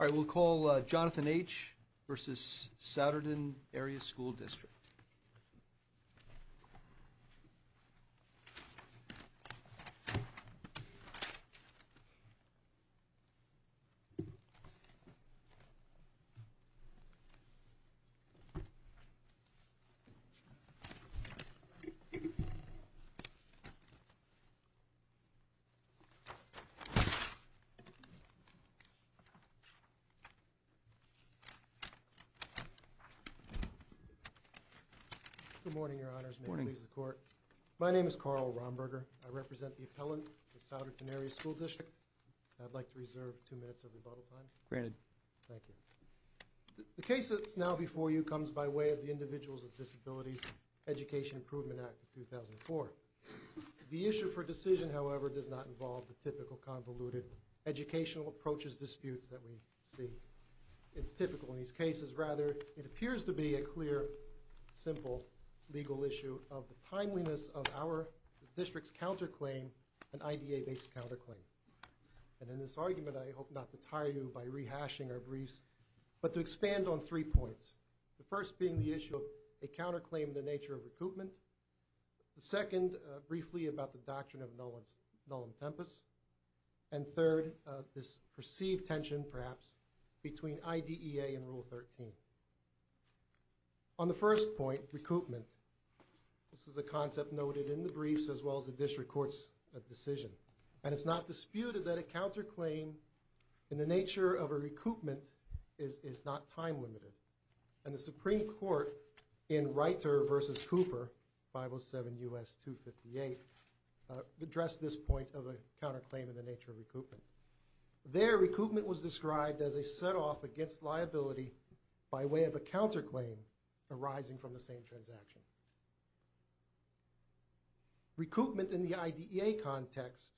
Alright, we'll call Jonathan H v. Souderton Area School District. Good morning, your honors. May it please the court. My name is Carl Romberger. I represent the appellant of Souderton Area School District. I'd like to reserve two minutes of rebuttal time. Granted. Thank you. The case that's now before you comes by way of the Individuals with Disabilities Education Improvement Act of 2004. The issue for decision, however, does not involve the typical convoluted educational approaches disputes that we see. It's typical in these cases. Rather, it appears to be a clear, simple legal issue of the timeliness of our district's counterclaim, an IDA-based counterclaim. And in this argument, I hope not to tire you by rehashing our briefs, but to expand on three points. The first being the issue of a counterclaim in the nature of recoupment. The second, briefly about the doctrine of nullum tempus. And third, this perceived tension, perhaps, between IDEA and Rule 13. On the first point, recoupment, this is a concept noted in the briefs as well as the district court's decision. And it's not disputed that a counterclaim in the nature of a recoupment is not time-limited. And the Supreme Court, in Reiter v. Cooper, 507 U.S. 258, addressed this point of a counterclaim in the nature of recoupment. There, recoupment was described as a set-off against liability by way of a counterclaim arising from the same transaction. Recoupment in the IDEA context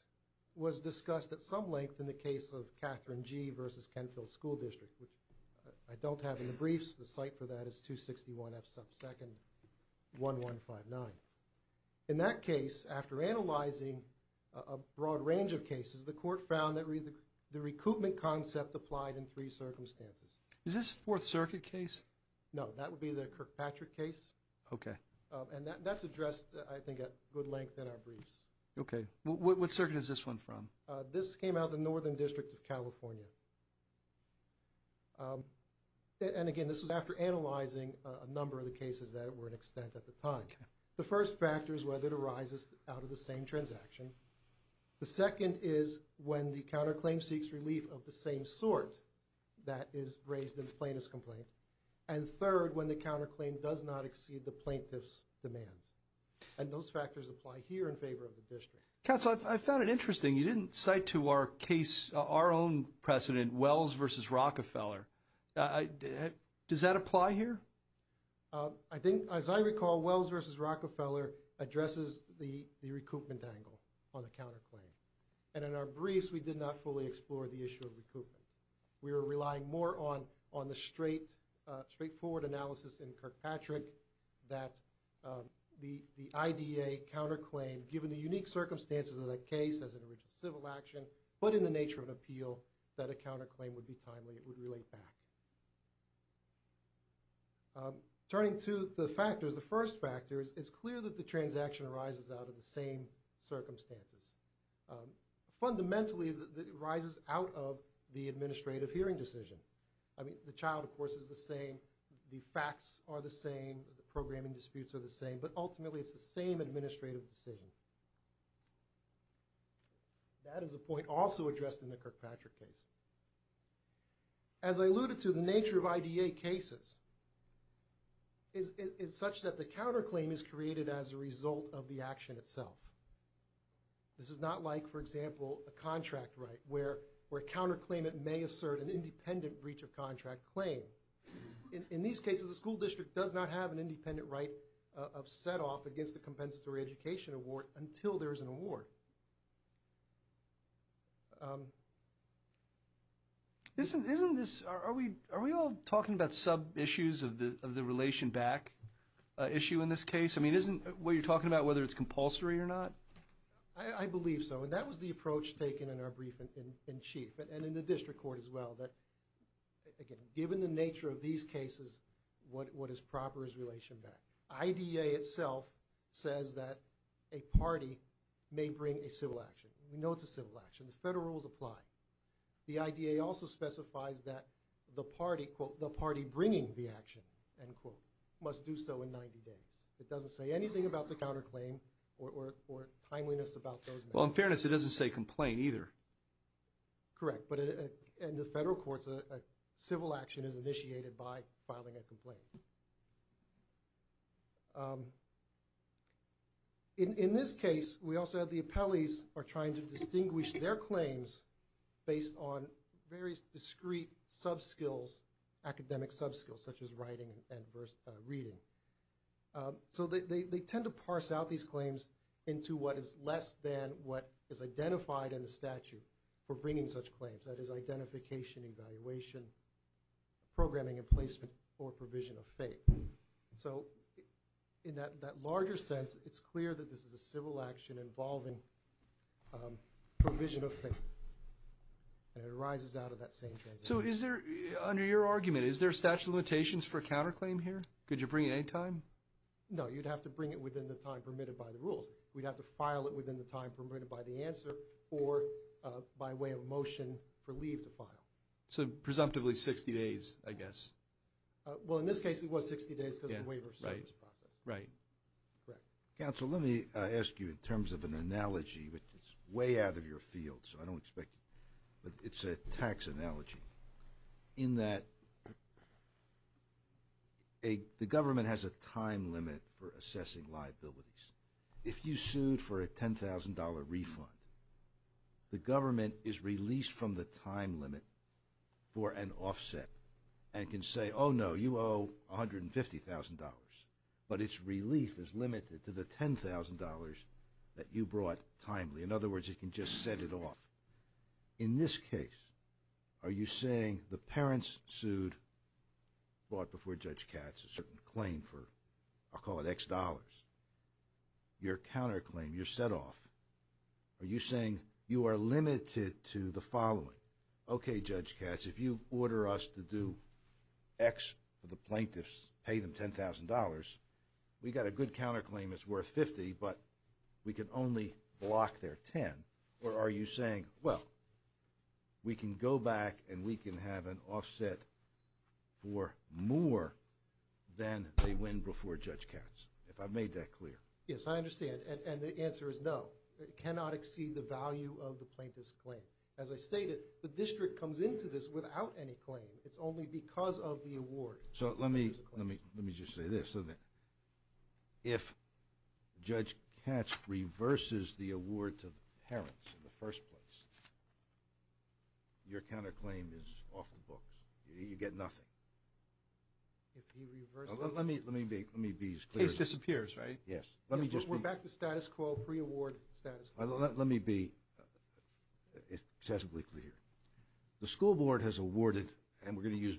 was discussed at some length in the case of Catherine G. v. Kenfield School District, which I don't have in the briefs. The site for that is 261 F. Subsecond 1159. In that case, after analyzing a broad range of cases, the court found that the recoupment concept applied in three circumstances. Is this a Fourth Circuit case? No, that would be the Kirkpatrick case. Okay. And that's addressed, I think, at good length in our briefs. Okay. What circuit is this one from? This came out of the Northern District of California. And again, this was after analyzing a number of the cases that were in extent at the time. The first factor is whether it arises out of the same transaction. The second is when the counterclaim seeks relief of the same sort that is raised in the plaintiff's complaint. And third, when the counterclaim does not exceed the plaintiff's demands. And those factors apply here in favor of the district. Counsel, I found it interesting. You didn't cite to our case, our own precedent, Wells v. Rockefeller. Does that apply here? I think, as I recall, Wells v. Rockefeller addresses the recoupment angle on the counterclaim. And in our briefs, we did not fully explore the issue of recoupment. We were relying more on the straightforward analysis in Kirkpatrick that the IDA counterclaim, given the unique circumstances of that case as an original civil action, but in the nature of an appeal, that a counterclaim would be timely. It would relate back. Turning to the factors, the first factor is it's clear that the transaction arises out of the same circumstances. Fundamentally, it arises out of the administrative hearing decision. I mean, the child, of course, is the same. The facts are the same. The programming disputes are the same. But ultimately, it's the same administrative decision. That is a point also addressed in the Kirkpatrick case. As I alluded to, the nature of IDA cases is such that the counterclaim is created as a result of the action itself. This is not like, for example, a contract right where a counterclaimant may assert an independent breach of contract claim. In these cases, a school district does not have an independent right of set-off against the compensatory education award until there's an award. Isn't this, are we all talking about sub-issues of the relation back issue in this case? I mean, isn't what you're talking about whether it's compulsory or not? I believe so. And that was the approach taken in our briefing in chief and in the district court that, again, given the nature of these cases, what is proper is relation back. IDA itself says that a party may bring a civil action. We know it's a civil action. The federal rules apply. The IDA also specifies that the party, quote, the party bringing the action, end quote, must do so in 90 days. It doesn't say anything about the counterclaim or timeliness about those matters. Well, in fairness, it doesn't say complain either. Correct. But in the federal courts, a civil action is initiated by filing a complaint. In this case, we also have the appellees are trying to distinguish their claims based on various discrete subskills, academic subskills, such as writing and reading. So they tend to parse out these claims into what is less than what is identified in the statute. For bringing such claims, that is identification, evaluation, programming and placement or provision of fate. So in that larger sense, it's clear that this is a civil action involving provision of fate. And it arises out of that same transition. So is there, under your argument, is there a statute of limitations for counterclaim here? Could you bring it any time? No, you'd have to bring it within the time permitted by the rules. We'd have to file it within the time permitted by the answer or by way of a motion for leave to file. So presumptively 60 days, I guess. Well, in this case, it was 60 days because the waiver service process. Right. Correct. Counsel, let me ask you in terms of an analogy, which is way out of your field, so I don't expect, but it's a tax analogy in that the government has a time limit for assessing liabilities. If you sued for a $10,000 refund, the government is released from the time limit for an offset and can say, oh no, you owe $150,000, but its relief is limited to the $10,000 that you brought timely. In other words, it can just set it off. In this case, are you saying the parents sued, fought before Judge Katz, a certain claim for, I'll call it X dollars, your counterclaim, your setoff, are you saying you are limited to the following? Okay, Judge Katz, if you order us to do X for the plaintiffs, pay them $10,000, we got a good counterclaim that's worth $50,000, but we can only block their $10,000. Or are you saying, well, we can go back and we can have an offset for more than they win before Judge Katz, if I've made that clear? Yes, I understand, and the answer is no. It cannot exceed the value of the plaintiff's claim. As I stated, the district comes into this without any claim. It's only because of the award. So let me just say this. If Judge Katz reverses the award to the parents in the first place, your counterclaim is off the books. You get nothing. If he reverses it? Let me be as clear as I can. Case disappears, right? Yes. We're back to status quo, pre-award status quo. Let me be statistically clear. The school board has awarded, and we're going to use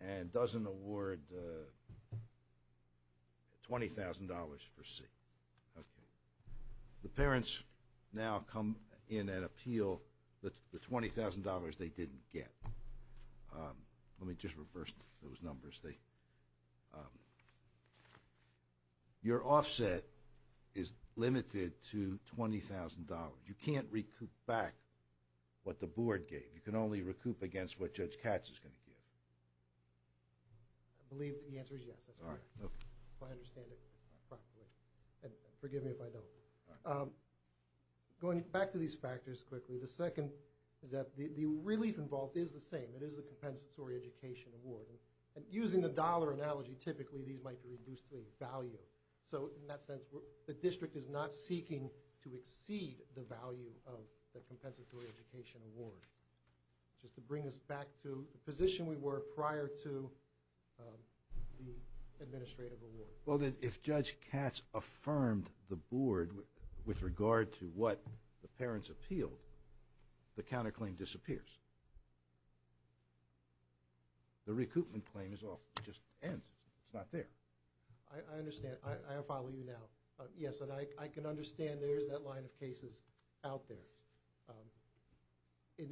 and doesn't award $20,000 for C. Okay. The parents now come in and appeal the $20,000 they didn't get. Let me just reverse those numbers. Your offset is limited to $20,000. You can't recoup back what the board gave. You can only recoup against what Judge Katz is going to give. I believe that the answer is yes. That's all right. If I understand it properly. And forgive me if I don't. Going back to these factors quickly, the second is that the relief involved is the same. It is the compensatory education award. And using the dollar analogy, typically these might be reduced to a value. So in that sense, the district is not seeking to exceed the value of the compensatory education award. Just to bring us back to the position we were prior to the administrative award. Well, then if Judge Katz affirmed the board with regard to what the parents appealed, the counterclaim disappears. The recoupment claim is off. It just ends. It's not there. I understand. I will follow you now. Yes, and I can understand there's that line of cases out there.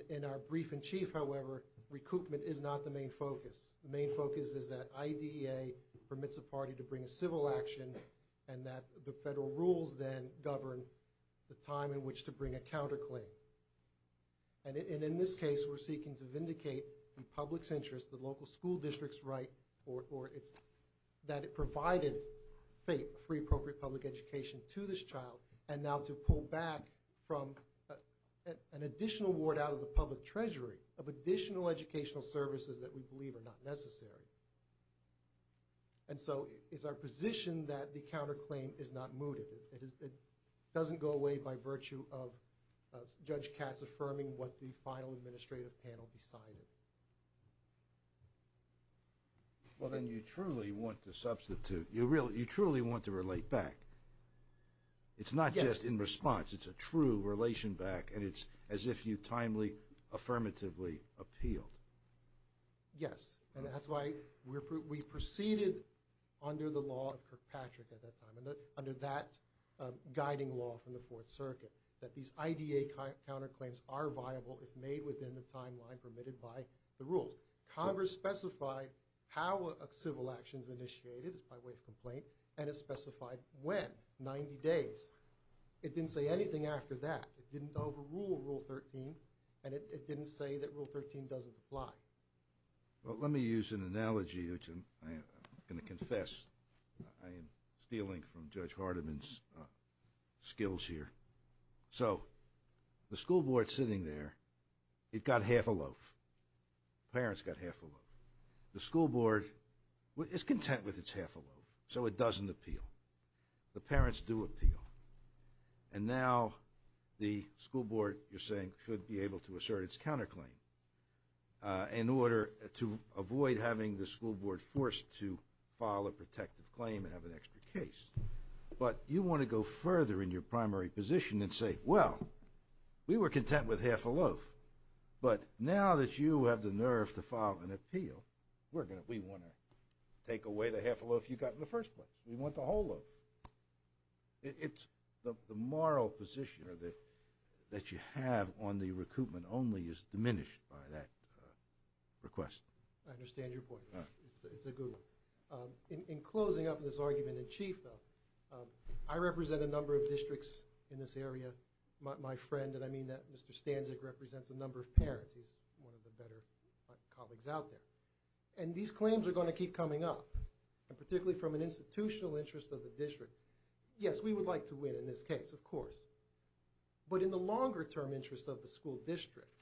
In our brief in chief, however, recoupment is not the main focus. The main focus is that IDEA permits a party to bring a civil action and that the federal rules then govern the time in which to bring a counterclaim. And in this case, we're seeking to vindicate the public's interest, the local school district's right, or that it provided free appropriate public education to this child and now to pull back from an additional award out of the public treasury of additional educational services that we believe are not necessary. And so it's our position that the counterclaim is not mooted. It doesn't go away by virtue of Judge Katz affirming what the final administrative panel decided. Well, then you truly want to substitute, you really, you truly want to relate back. It's not just in response. It's a true relation back. And it's as if you timely, affirmatively appealed. Yes, and that's why we're, we proceeded under the law of Kirkpatrick at that time, under that guiding law from the Fourth Circuit, that these IDEA counterclaims are viable if made within the timeline permitted by the rules. Congress specified how a civil action's initiated, it's by way of complaint, and it specified when, 90 days. It didn't say anything after that. It didn't overrule Rule 13, and it didn't say that Rule 13 doesn't apply. Well, let me use an analogy, which I'm going to confess I am stealing from Judge Hardiman's skills here. So the school board sitting there, it got half a loaf. Parents got half a loaf. The school board is content with its half a loaf, so it doesn't appeal. The parents do appeal. And now the school board, you're saying, should be able to assert its counterclaim in order to avoid having the school board forced to file a protective claim and have an extra case. But you want to go further in your primary position and say, well, we were content with half a loaf, but now that you have the nerve to file an appeal, we want to take away the half a loaf you got in the first place. We want the whole loaf. It's the moral position that you have on the recoupment only is diminished by that request. I understand your point. It's a good one. In closing up this argument in chief, though, I represent a number of districts in this area, my friend. And I mean that Mr. Stanzik represents a number of parents. He's one of the better colleagues out there. And these claims are going to keep coming up, particularly from an institutional interest of the district. Yes, we would like to win in this case, of course. But in the longer term interest of the school district,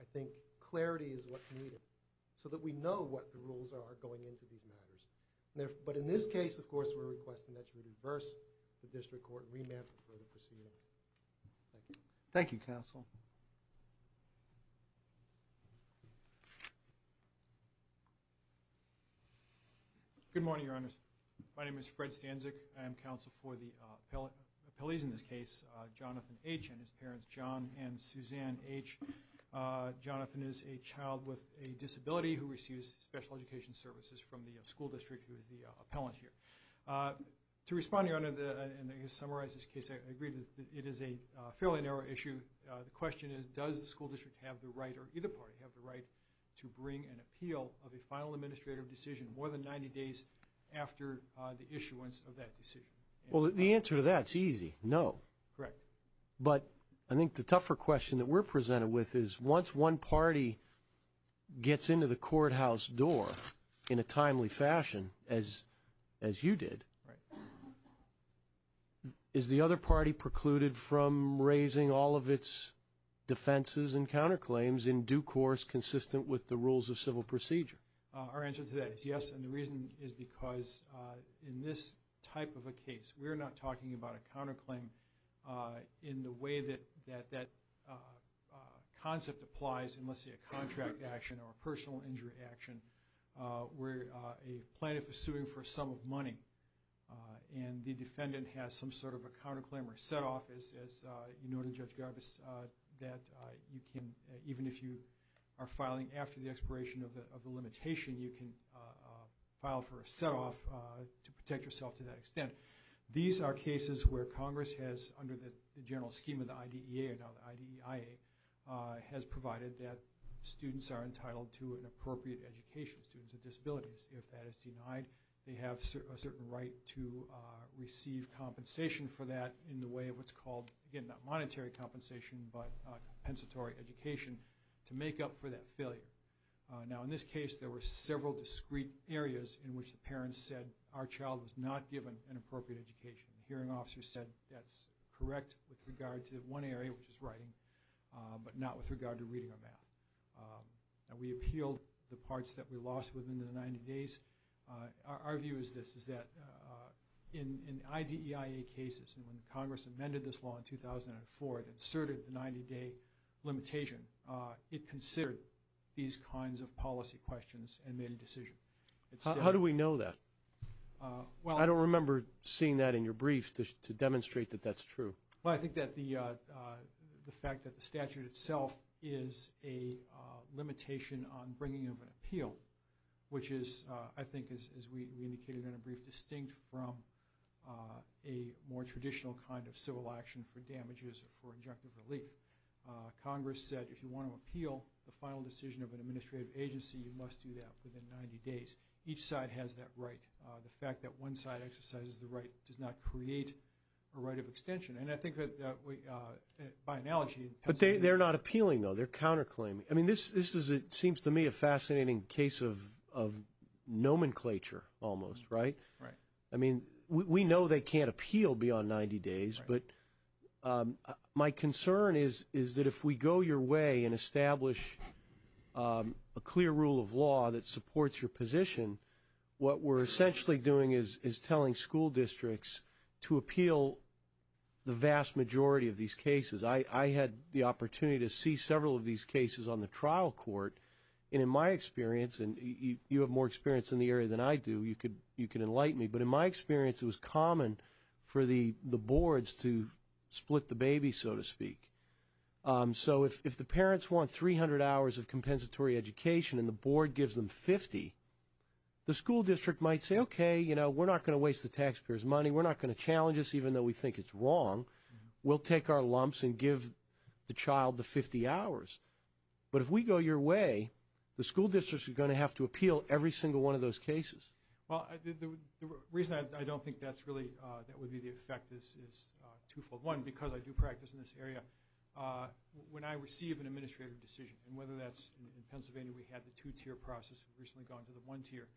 I think clarity is what's needed so that we know what the rules are going into these district court remand proceedings. Thank you. Thank you, counsel. Good morning, your honors. My name is Fred Stanzik. I am counsel for the appellees in this case, Jonathan H and his parents, John and Suzanne H. Jonathan is a child with a disability who receives special education services from the school district who is the summarizes case. I agree that it is a fairly narrow issue. The question is, does the school district have the right or either party have the right to bring an appeal of a final administrative decision more than 90 days after the issuance of that decision? Well, the answer to that's easy. No, correct. But I think the tougher question that we're presented with is once one party gets into the courthouse door in a timely fashion as you did, is the other party precluded from raising all of its defenses and counterclaims in due course consistent with the rules of civil procedure? Our answer to that is yes. And the reason is because in this type of a case, we're not talking about a counterclaim in the way that concept applies unless it's a contract action or a personal injury action where a plaintiff is suing for a sum of money and the defendant has some sort of a counterclaim or setoff, as you noted Judge Garbus, that you can, even if you are filing after the expiration of the limitation, you can file for a setoff to protect yourself to that extent. These are cases where Congress has, under the general scheme of the IDEIA, has provided that students are entitled to an appropriate education, students with disabilities. If that is denied, they have a certain right to receive compensation for that in the way of what's called, again, not monetary compensation, but compensatory education to make up for that failure. Now, in this case, there were several discrete areas in which the parents said our child was not given an appropriate education. The hearing officer said that's correct with regard to one area, which is writing, but not with regard to reading or math. And we appealed the parts that we lost within the 90 days. Our view is this, is that in IDEIA cases, and when Congress amended this law in 2004, it inserted the 90-day limitation, it considered these kinds of policy questions and made a Well, I don't remember seeing that in your brief to demonstrate that that's true. Well, I think that the fact that the statute itself is a limitation on bringing of an appeal, which is, I think, as we indicated in a brief, distinct from a more traditional kind of civil action for damages or for injunctive relief. Congress said, if you want to appeal the final decision of an administrative agency, you must do that within 90 days. Each side has that right. The fact that one side exercises the right does not create a right of extension. And I think that by analogy... But they're not appealing, though. They're counterclaiming. I mean, this is, it seems to me, a fascinating case of nomenclature almost, right? Right. I mean, we know they can't appeal beyond 90 days, but my concern is that if we go your way and establish a clear rule of law that supports your position, what we're essentially doing is telling school districts to appeal the vast majority of these cases. I had the opportunity to see several of these cases on the trial court, and in my experience, and you have more experience in the area than I do, you can enlighten me, but in my experience, it was common for the boards to split the baby, so to speak. So if the parents want 300 hours of compensatory education and the board gives them 50, the school district might say, okay, you know, we're not going to waste the taxpayers' money. We're not going to challenge this, even though we think it's wrong. We'll take our lumps and give the child the 50 hours. But if we go your way, the school districts are going to have to appeal every single one of those cases. Well, the reason I don't think that's really, that would be the effect is twofold. One, because I do practice in this area, when I receive an administrative decision, and whether that's in Pennsylvania, we had the two-tier process recently gone to the one-tier,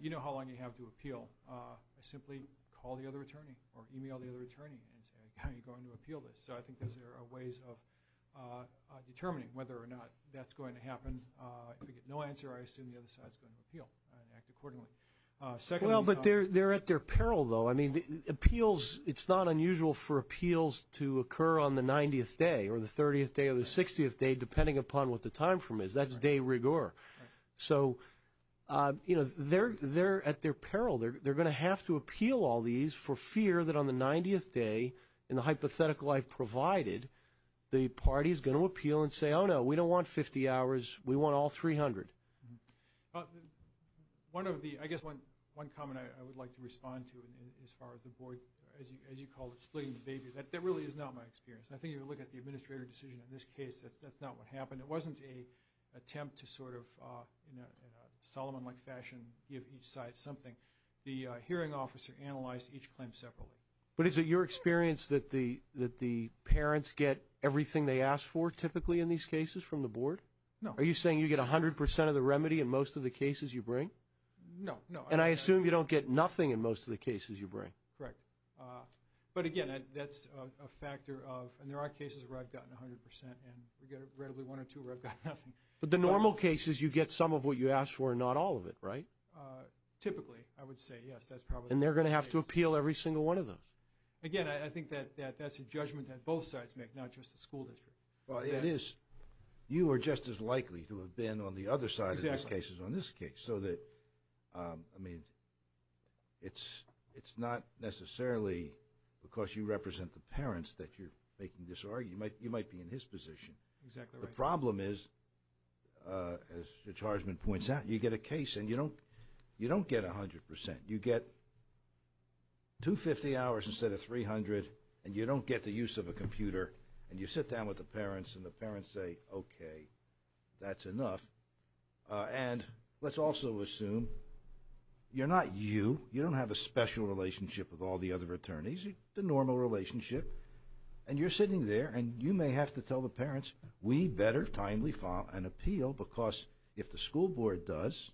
you know how long you have to appeal. I simply call the other attorney or email the other attorney and say, how are you going to appeal this? So I think there are ways of determining whether or not that's going to happen. If I get no answer, I assume the other side is going to appeal and act accordingly. Well, but they're at their peril, though. I mean, appeals, it's not unusual for appeals to occur on the 90th day or the 30th day or the 60th day, depending upon what the time from is. That's de rigueur. So, you know, they're at their peril. They're going to have to appeal all these for fear that on the 90th day, in the hypothetical I've provided, the party is going to appeal and say, oh, no, we don't want 50 hours, we want all 300. One of the, I guess one comment I would like to respond to, as far as the board, as you call it, splitting the baby, that really is not my experience. I think if you look at the administrator decision in this case, that's not what happened. It wasn't an attempt to sort of, in a Solomon-like fashion, give each side something. The hearing officer analyzed each claim separately. But is it your experience that the parents get everything they ask for typically in these cases from the board? No. Are you saying you get 100 percent of the remedy in most of the cases you bring? No, no. And I assume you don't get nothing in most of the cases you bring. Correct. But again, that's a factor of, and there are cases where I've gotten 100 percent and we get relatively one or two where I've got nothing. But the normal cases, you get some of what you asked for and not all of it, right? Typically, I would say, yes, that's probably. And they're going to have to Again, I think that that's a judgment that both sides make, not just the school district. Well, it is. You are just as likely to have been on the other side of these cases on this case, so that, I mean, it's not necessarily because you represent the parents that you're making this argument. You might be in his position. Exactly right. The problem is, as the chargeman points out, you get a case and you don't get 100 percent. You get 250 hours instead of 300, and you don't get the use of a computer. And you sit down with the parents and the parents say, okay, that's enough. And let's also assume you're not you. You don't have a special relationship with all the other attorneys, the normal relationship. And you're sitting there and you may have to tell the parents, we better timely file an appeal because if the school board does,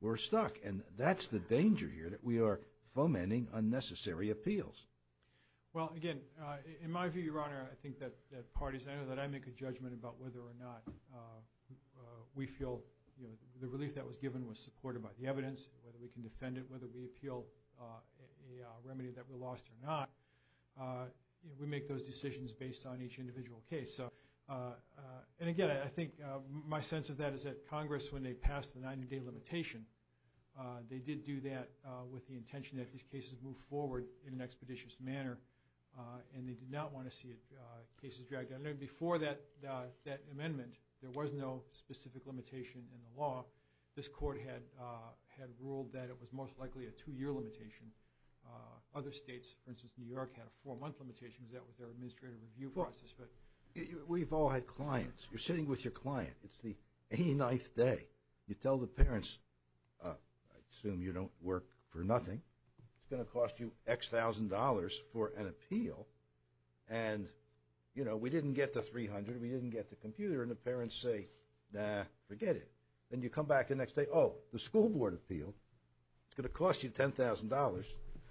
we're stuck. And that's the danger here, that we are fomenting unnecessary appeals. Well, again, in my view, Your Honor, I think that parties, I know that I make a judgment about whether or not we feel, you know, the relief that was given was supported by the evidence, whether we can defend it, whether we appeal a remedy that we lost or not. We make those decisions based on each individual case. And again, I think my sense of that is that Congress, when they passed the 90-day limitation, they did do that with the intention that these cases move forward in an expeditious manner. And they did not want to see cases dragged down. And before that amendment, there was no specific limitation in the law. This court had ruled that it was most likely a two-year limitation. Other states, for instance, New York had a four-month limitation that was their administrative review process. We've all had clients. You're sitting with your client. It's the 89th day. You tell the parents, I assume you don't work for nothing. It's going to cost you X thousand dollars for an appeal. And, you know, we didn't get the 300. We didn't get the computer. And the parents say, nah, forget it. Then you come back the next day, oh, the school board appealed. It's going to cost you $10,000.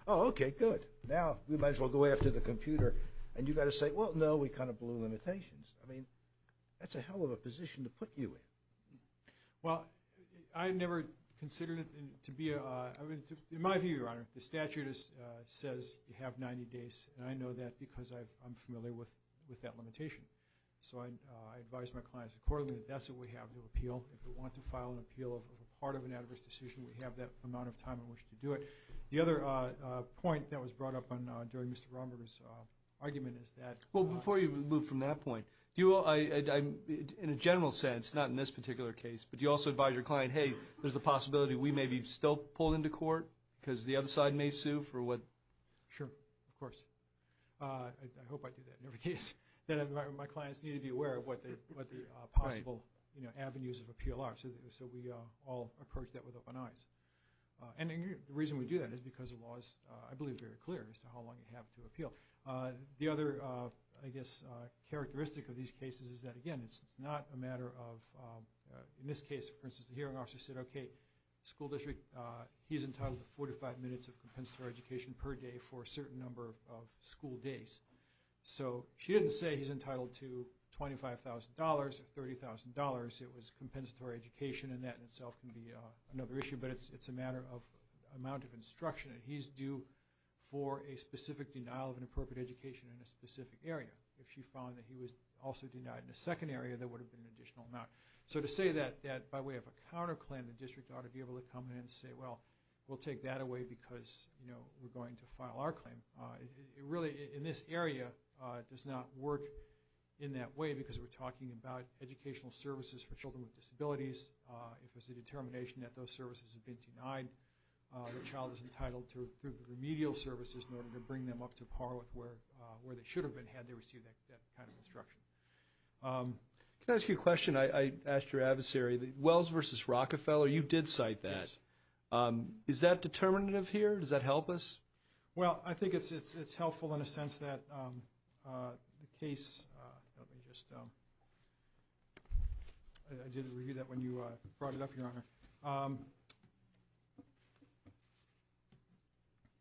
Oh, okay, good. Now, we might as well go after the computer. And you've got to say, well, no, we kind of blew the limitations. I mean, that's a hell of a position to put you in. Well, I've never considered it to be, in my view, Your Honor, the statute says you have 90 days. And I know that because I'm familiar with that limitation. So I advise my clients accordingly that that's what we have to appeal. If we want to file an appeal of a part of an adverse decision, we have that amount of time in which to do it. The other point that was brought up during Mr. Romer's argument is that Well, before you move from that point, in a general sense, not in this particular case, but do you also advise your client, hey, there's a possibility we may be still pulled into court because the other side may sue for what? Sure, of course. I hope I do that in every case. Then my clients need to be aware of what the possible avenues of appeal are. So we all approach that with open eyes. And the reason we do that is because the law is, I believe, very clear as to how long you have to appeal. The other, I guess, characteristic of these cases is that, again, it's not a matter of, in this case, for instance, the hearing officer said, okay, school district, he's entitled to 45 minutes of compensatory education per day for a certain number of school days. So she didn't say he's entitled to $25,000 or $30,000. It was compensatory education, and that in itself can be another issue, but it's a matter of amount of instruction, and he's due for a specific denial of an appropriate education in a specific area. If she found that he was also denied in a second area, there would have been an additional amount. So to say that by way of a counterclaim, the district ought to be able to come in and say, well, we'll take that away because we're going to file our claim. It really, in this area, does not work in that way because we're talking about educational services for children with disabilities. If it's a determination that those services have been denied, the child is entitled to remedial services in order to bring them up to par with where they should have been had they received that kind of instruction. Can I ask you a question? I asked your adversary, Wells versus Rockefeller, you did cite that. Is that determinative here? Does that help us? Well, I think it's helpful in a sense that the case, let me just, I did review that when you brought it up, your honor.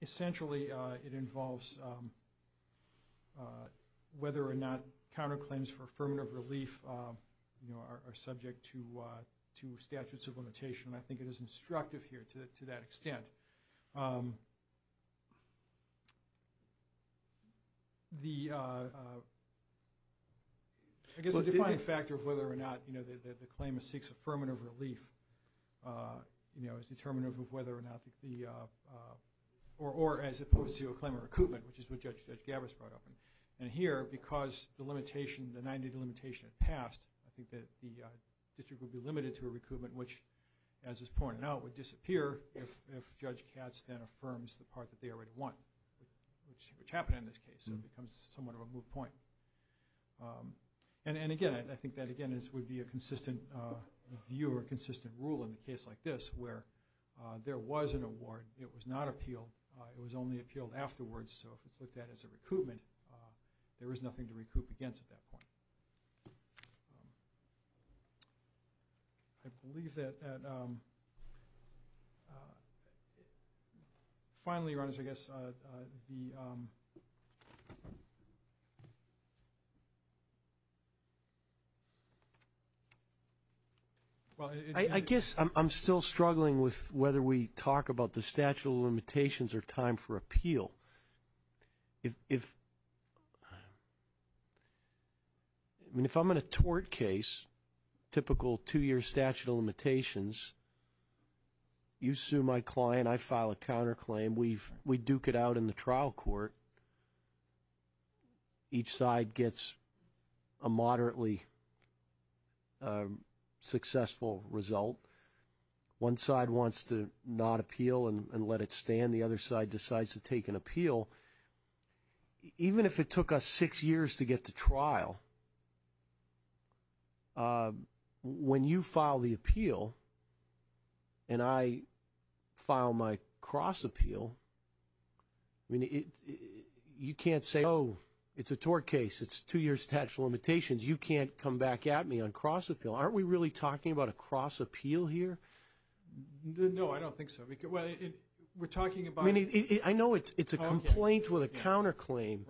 Essentially, it involves whether or not counterclaims for affirmative relief are subject to statutes of limitation. I think it is instructive here to that extent. The, I guess the defining factor of whether or not the claim of six affirmative relief is determinative of whether or not the, or as opposed to a claim of recoupment, which is what Judge Gavis brought up. And here, because the limitation, the 90-day limitation had passed, I think that the district would be limited to a recoupment, which, as is pointed out, would disappear if Judge Katz then affirms the part that they already want, which happened in this case. It becomes somewhat of a moot point. And again, I think that again, this would be a consistent view or consistent rule in a case like this where there was an award, it was not appealed, it was only appealed afterwards. So if it's looked at as a recoupment, there is nothing to recoup against at that point. I believe that, finally, Your Honors, I guess the, well, I guess I'm still struggling with whether we talk about the statute of limitations or time for appeal. If, I mean, if I'm in a tort case, typical two-year statute of limitations, you sue my client, I file a counterclaim, we duke it out in the trial court, each side gets a moderately successful result. One side wants to not appeal and let it stand, the other side decides to take an appeal. Even if it took us six years to get to trial, when you file the appeal and I file my cross appeal, I mean, you can't say, oh, it's a tort case, it's two years statute of limitations, you can't come back at me on cross appeal. Aren't we really talking about a cross appeal here? No, I don't think so. We're talking about... I know it's a complaint with a counterclaim,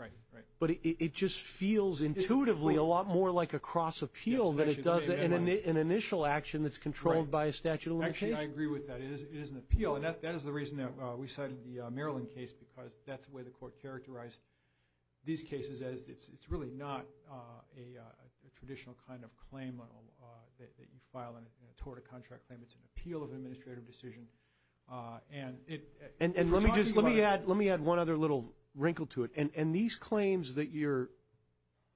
but it just feels intuitively a lot more like a cross appeal than it does an initial action that's controlled by a statute of limitations. Actually, I agree with that. It is an appeal, and that is the reason that we cited the Maryland case, because that's the way the court characterized these cases, as it's really not a traditional kind of claim that you file in a tort or contract claim, it's an appeal of administrative decision. And it... And let me just, let me add one other little wrinkle to it. And these claims that your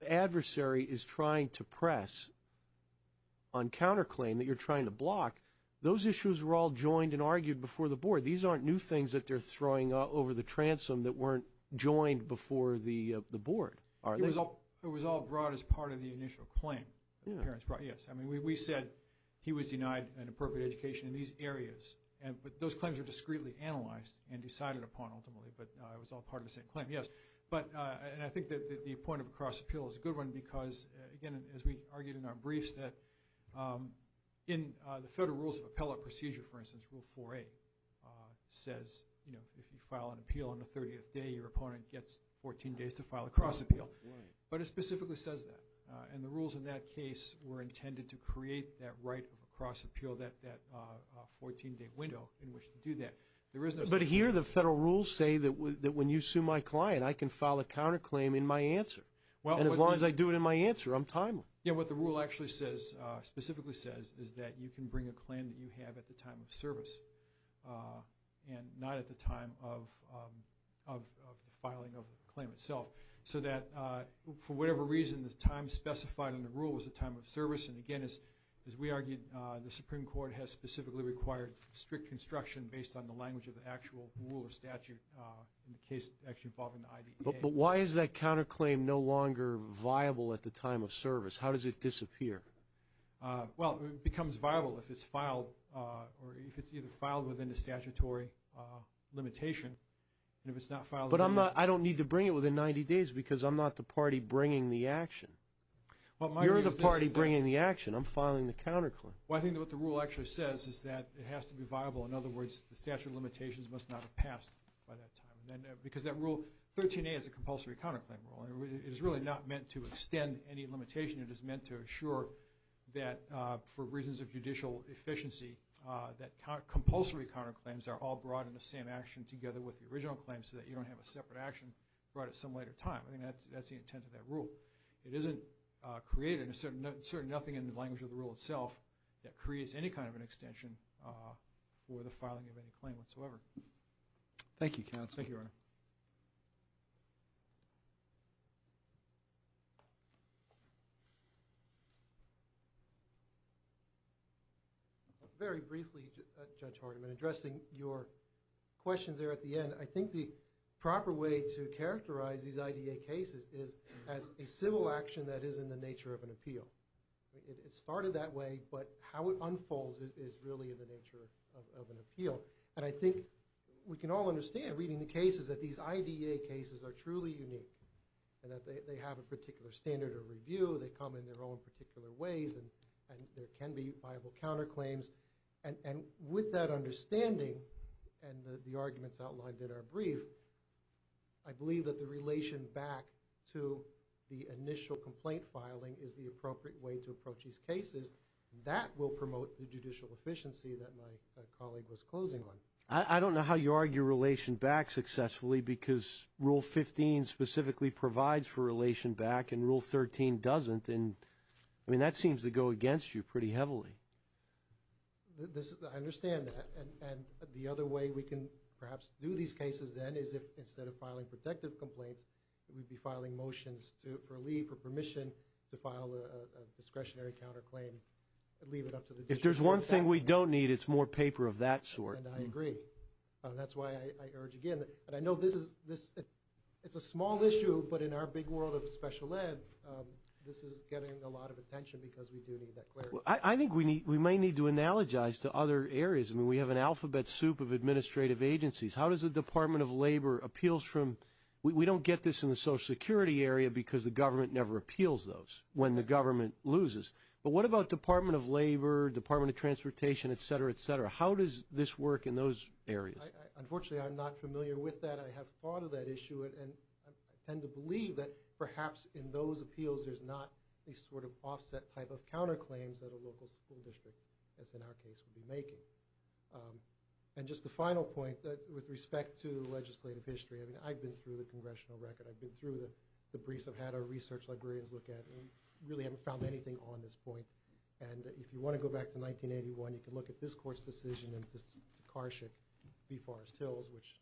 adversary is trying to press on counterclaim that you're trying to block, those issues were all joined and argued before the board. These aren't new things that they're throwing over the transom that weren't joined before the board, are they? It was all brought as part of the initial claim that the parents brought, yes. I mean, we said he was denied an appropriate education in these areas, but those claims were discreetly analyzed and decided upon, ultimately, but it was all part of the same claim, yes. But... And I think that the point of a cross appeal is a good one because, again, as we argued in our briefs, that in the Federal Rules of Appellate Procedure, for instance, Rule 4A, says if you file an appeal on the 30th day, your opponent gets 14 days to file a cross appeal. But it specifically says that. And the rules in that case were intended to create that right of a cross appeal, that 14-day window in which to do that. There is no... But here, the Federal Rules say that when you sue my client, I can file a counterclaim in my answer. And as long as I do it in my answer, I'm timely. Yeah, what the rule actually says, specifically says, is that you can bring a claim that you for whatever reason, the time specified in the rule was the time of service. And again, as we argued, the Supreme Court has specifically required strict construction based on the language of the actual rule or statute in the case actually involving the IDPA. But why is that counterclaim no longer viable at the time of service? How does it disappear? Well, it becomes viable if it's filed or if it's either filed within the statutory limitation. And if it's not filed... I don't need to bring it within 90 days because I'm not the party bringing the action. You're the party bringing the action. I'm filing the counterclaim. Well, I think what the rule actually says is that it has to be viable. In other words, the statute of limitations must not have passed by that time. Because that rule, 13A is a compulsory counterclaim rule. It is really not meant to extend any limitation. It is meant to assure that for reasons of judicial efficiency, that compulsory counterclaims are all in the same action together with the original claim so that you don't have a separate action brought at some later time. I think that's the intent of that rule. It isn't created, and there's certainly nothing in the language of the rule itself that creates any kind of an extension for the filing of any claim whatsoever. Thank you, counsel. Thank you, Your Honor. Thank you. Very briefly, Judge Hardiman, addressing your questions there at the end, I think the proper way to characterize these IDA cases is as a civil action that is in the nature of an appeal. It started that way, but how it unfolds is really in the nature of an appeal. And I think we can all understand, reading the cases, that these IDA cases are truly unique, and that they have a particular standard of review. They come in their own particular ways, and there can be viable counterclaims. And with that understanding, and the arguments outlined in our brief, I believe that the relation back to the initial complaint filing is the appropriate way to approach these cases. That will promote the judicial efficiency that my colleague was talking about. I mean, you argue relation back successfully because Rule 15 specifically provides for relation back, and Rule 13 doesn't. And I mean, that seems to go against you pretty heavily. I understand that. And the other way we can perhaps do these cases then is if, instead of filing protective complaints, we'd be filing motions for leave, for permission to file a discretionary counterclaim, and leave it up to the district. If there's one thing we don't need, it's more paper of that sort. And I agree. That's why I urge again, and I know this is, it's a small issue, but in our big world of special ed, this is getting a lot of attention because we do need that clarity. I think we may need to analogize to other areas. I mean, we have an alphabet soup of administrative agencies. How does the Department of Labor appeals from, we don't get this in the Social Security area because the government never appeals those when the government loses. But what about Department of Labor, Department of Labor, et cetera? How does this work in those areas? Unfortunately, I'm not familiar with that. I have thought of that issue, and I tend to believe that perhaps in those appeals, there's not a sort of offset type of counterclaims that a local school district, as in our case, would be making. And just the final point that, with respect to legislative history, I mean, I've been through the congressional record. I've been through the briefs, I've had our research librarians look at, and really haven't found anything on this point. And if you want to go back to 1981, you can look at this court's decision in this to Karshick v. Forrest Hills, which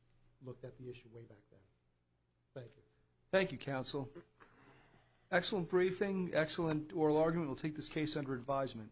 looked at the issue way back then. Thank you. Thank you, counsel. Excellent briefing, excellent oral argument. We'll take this case under advisement.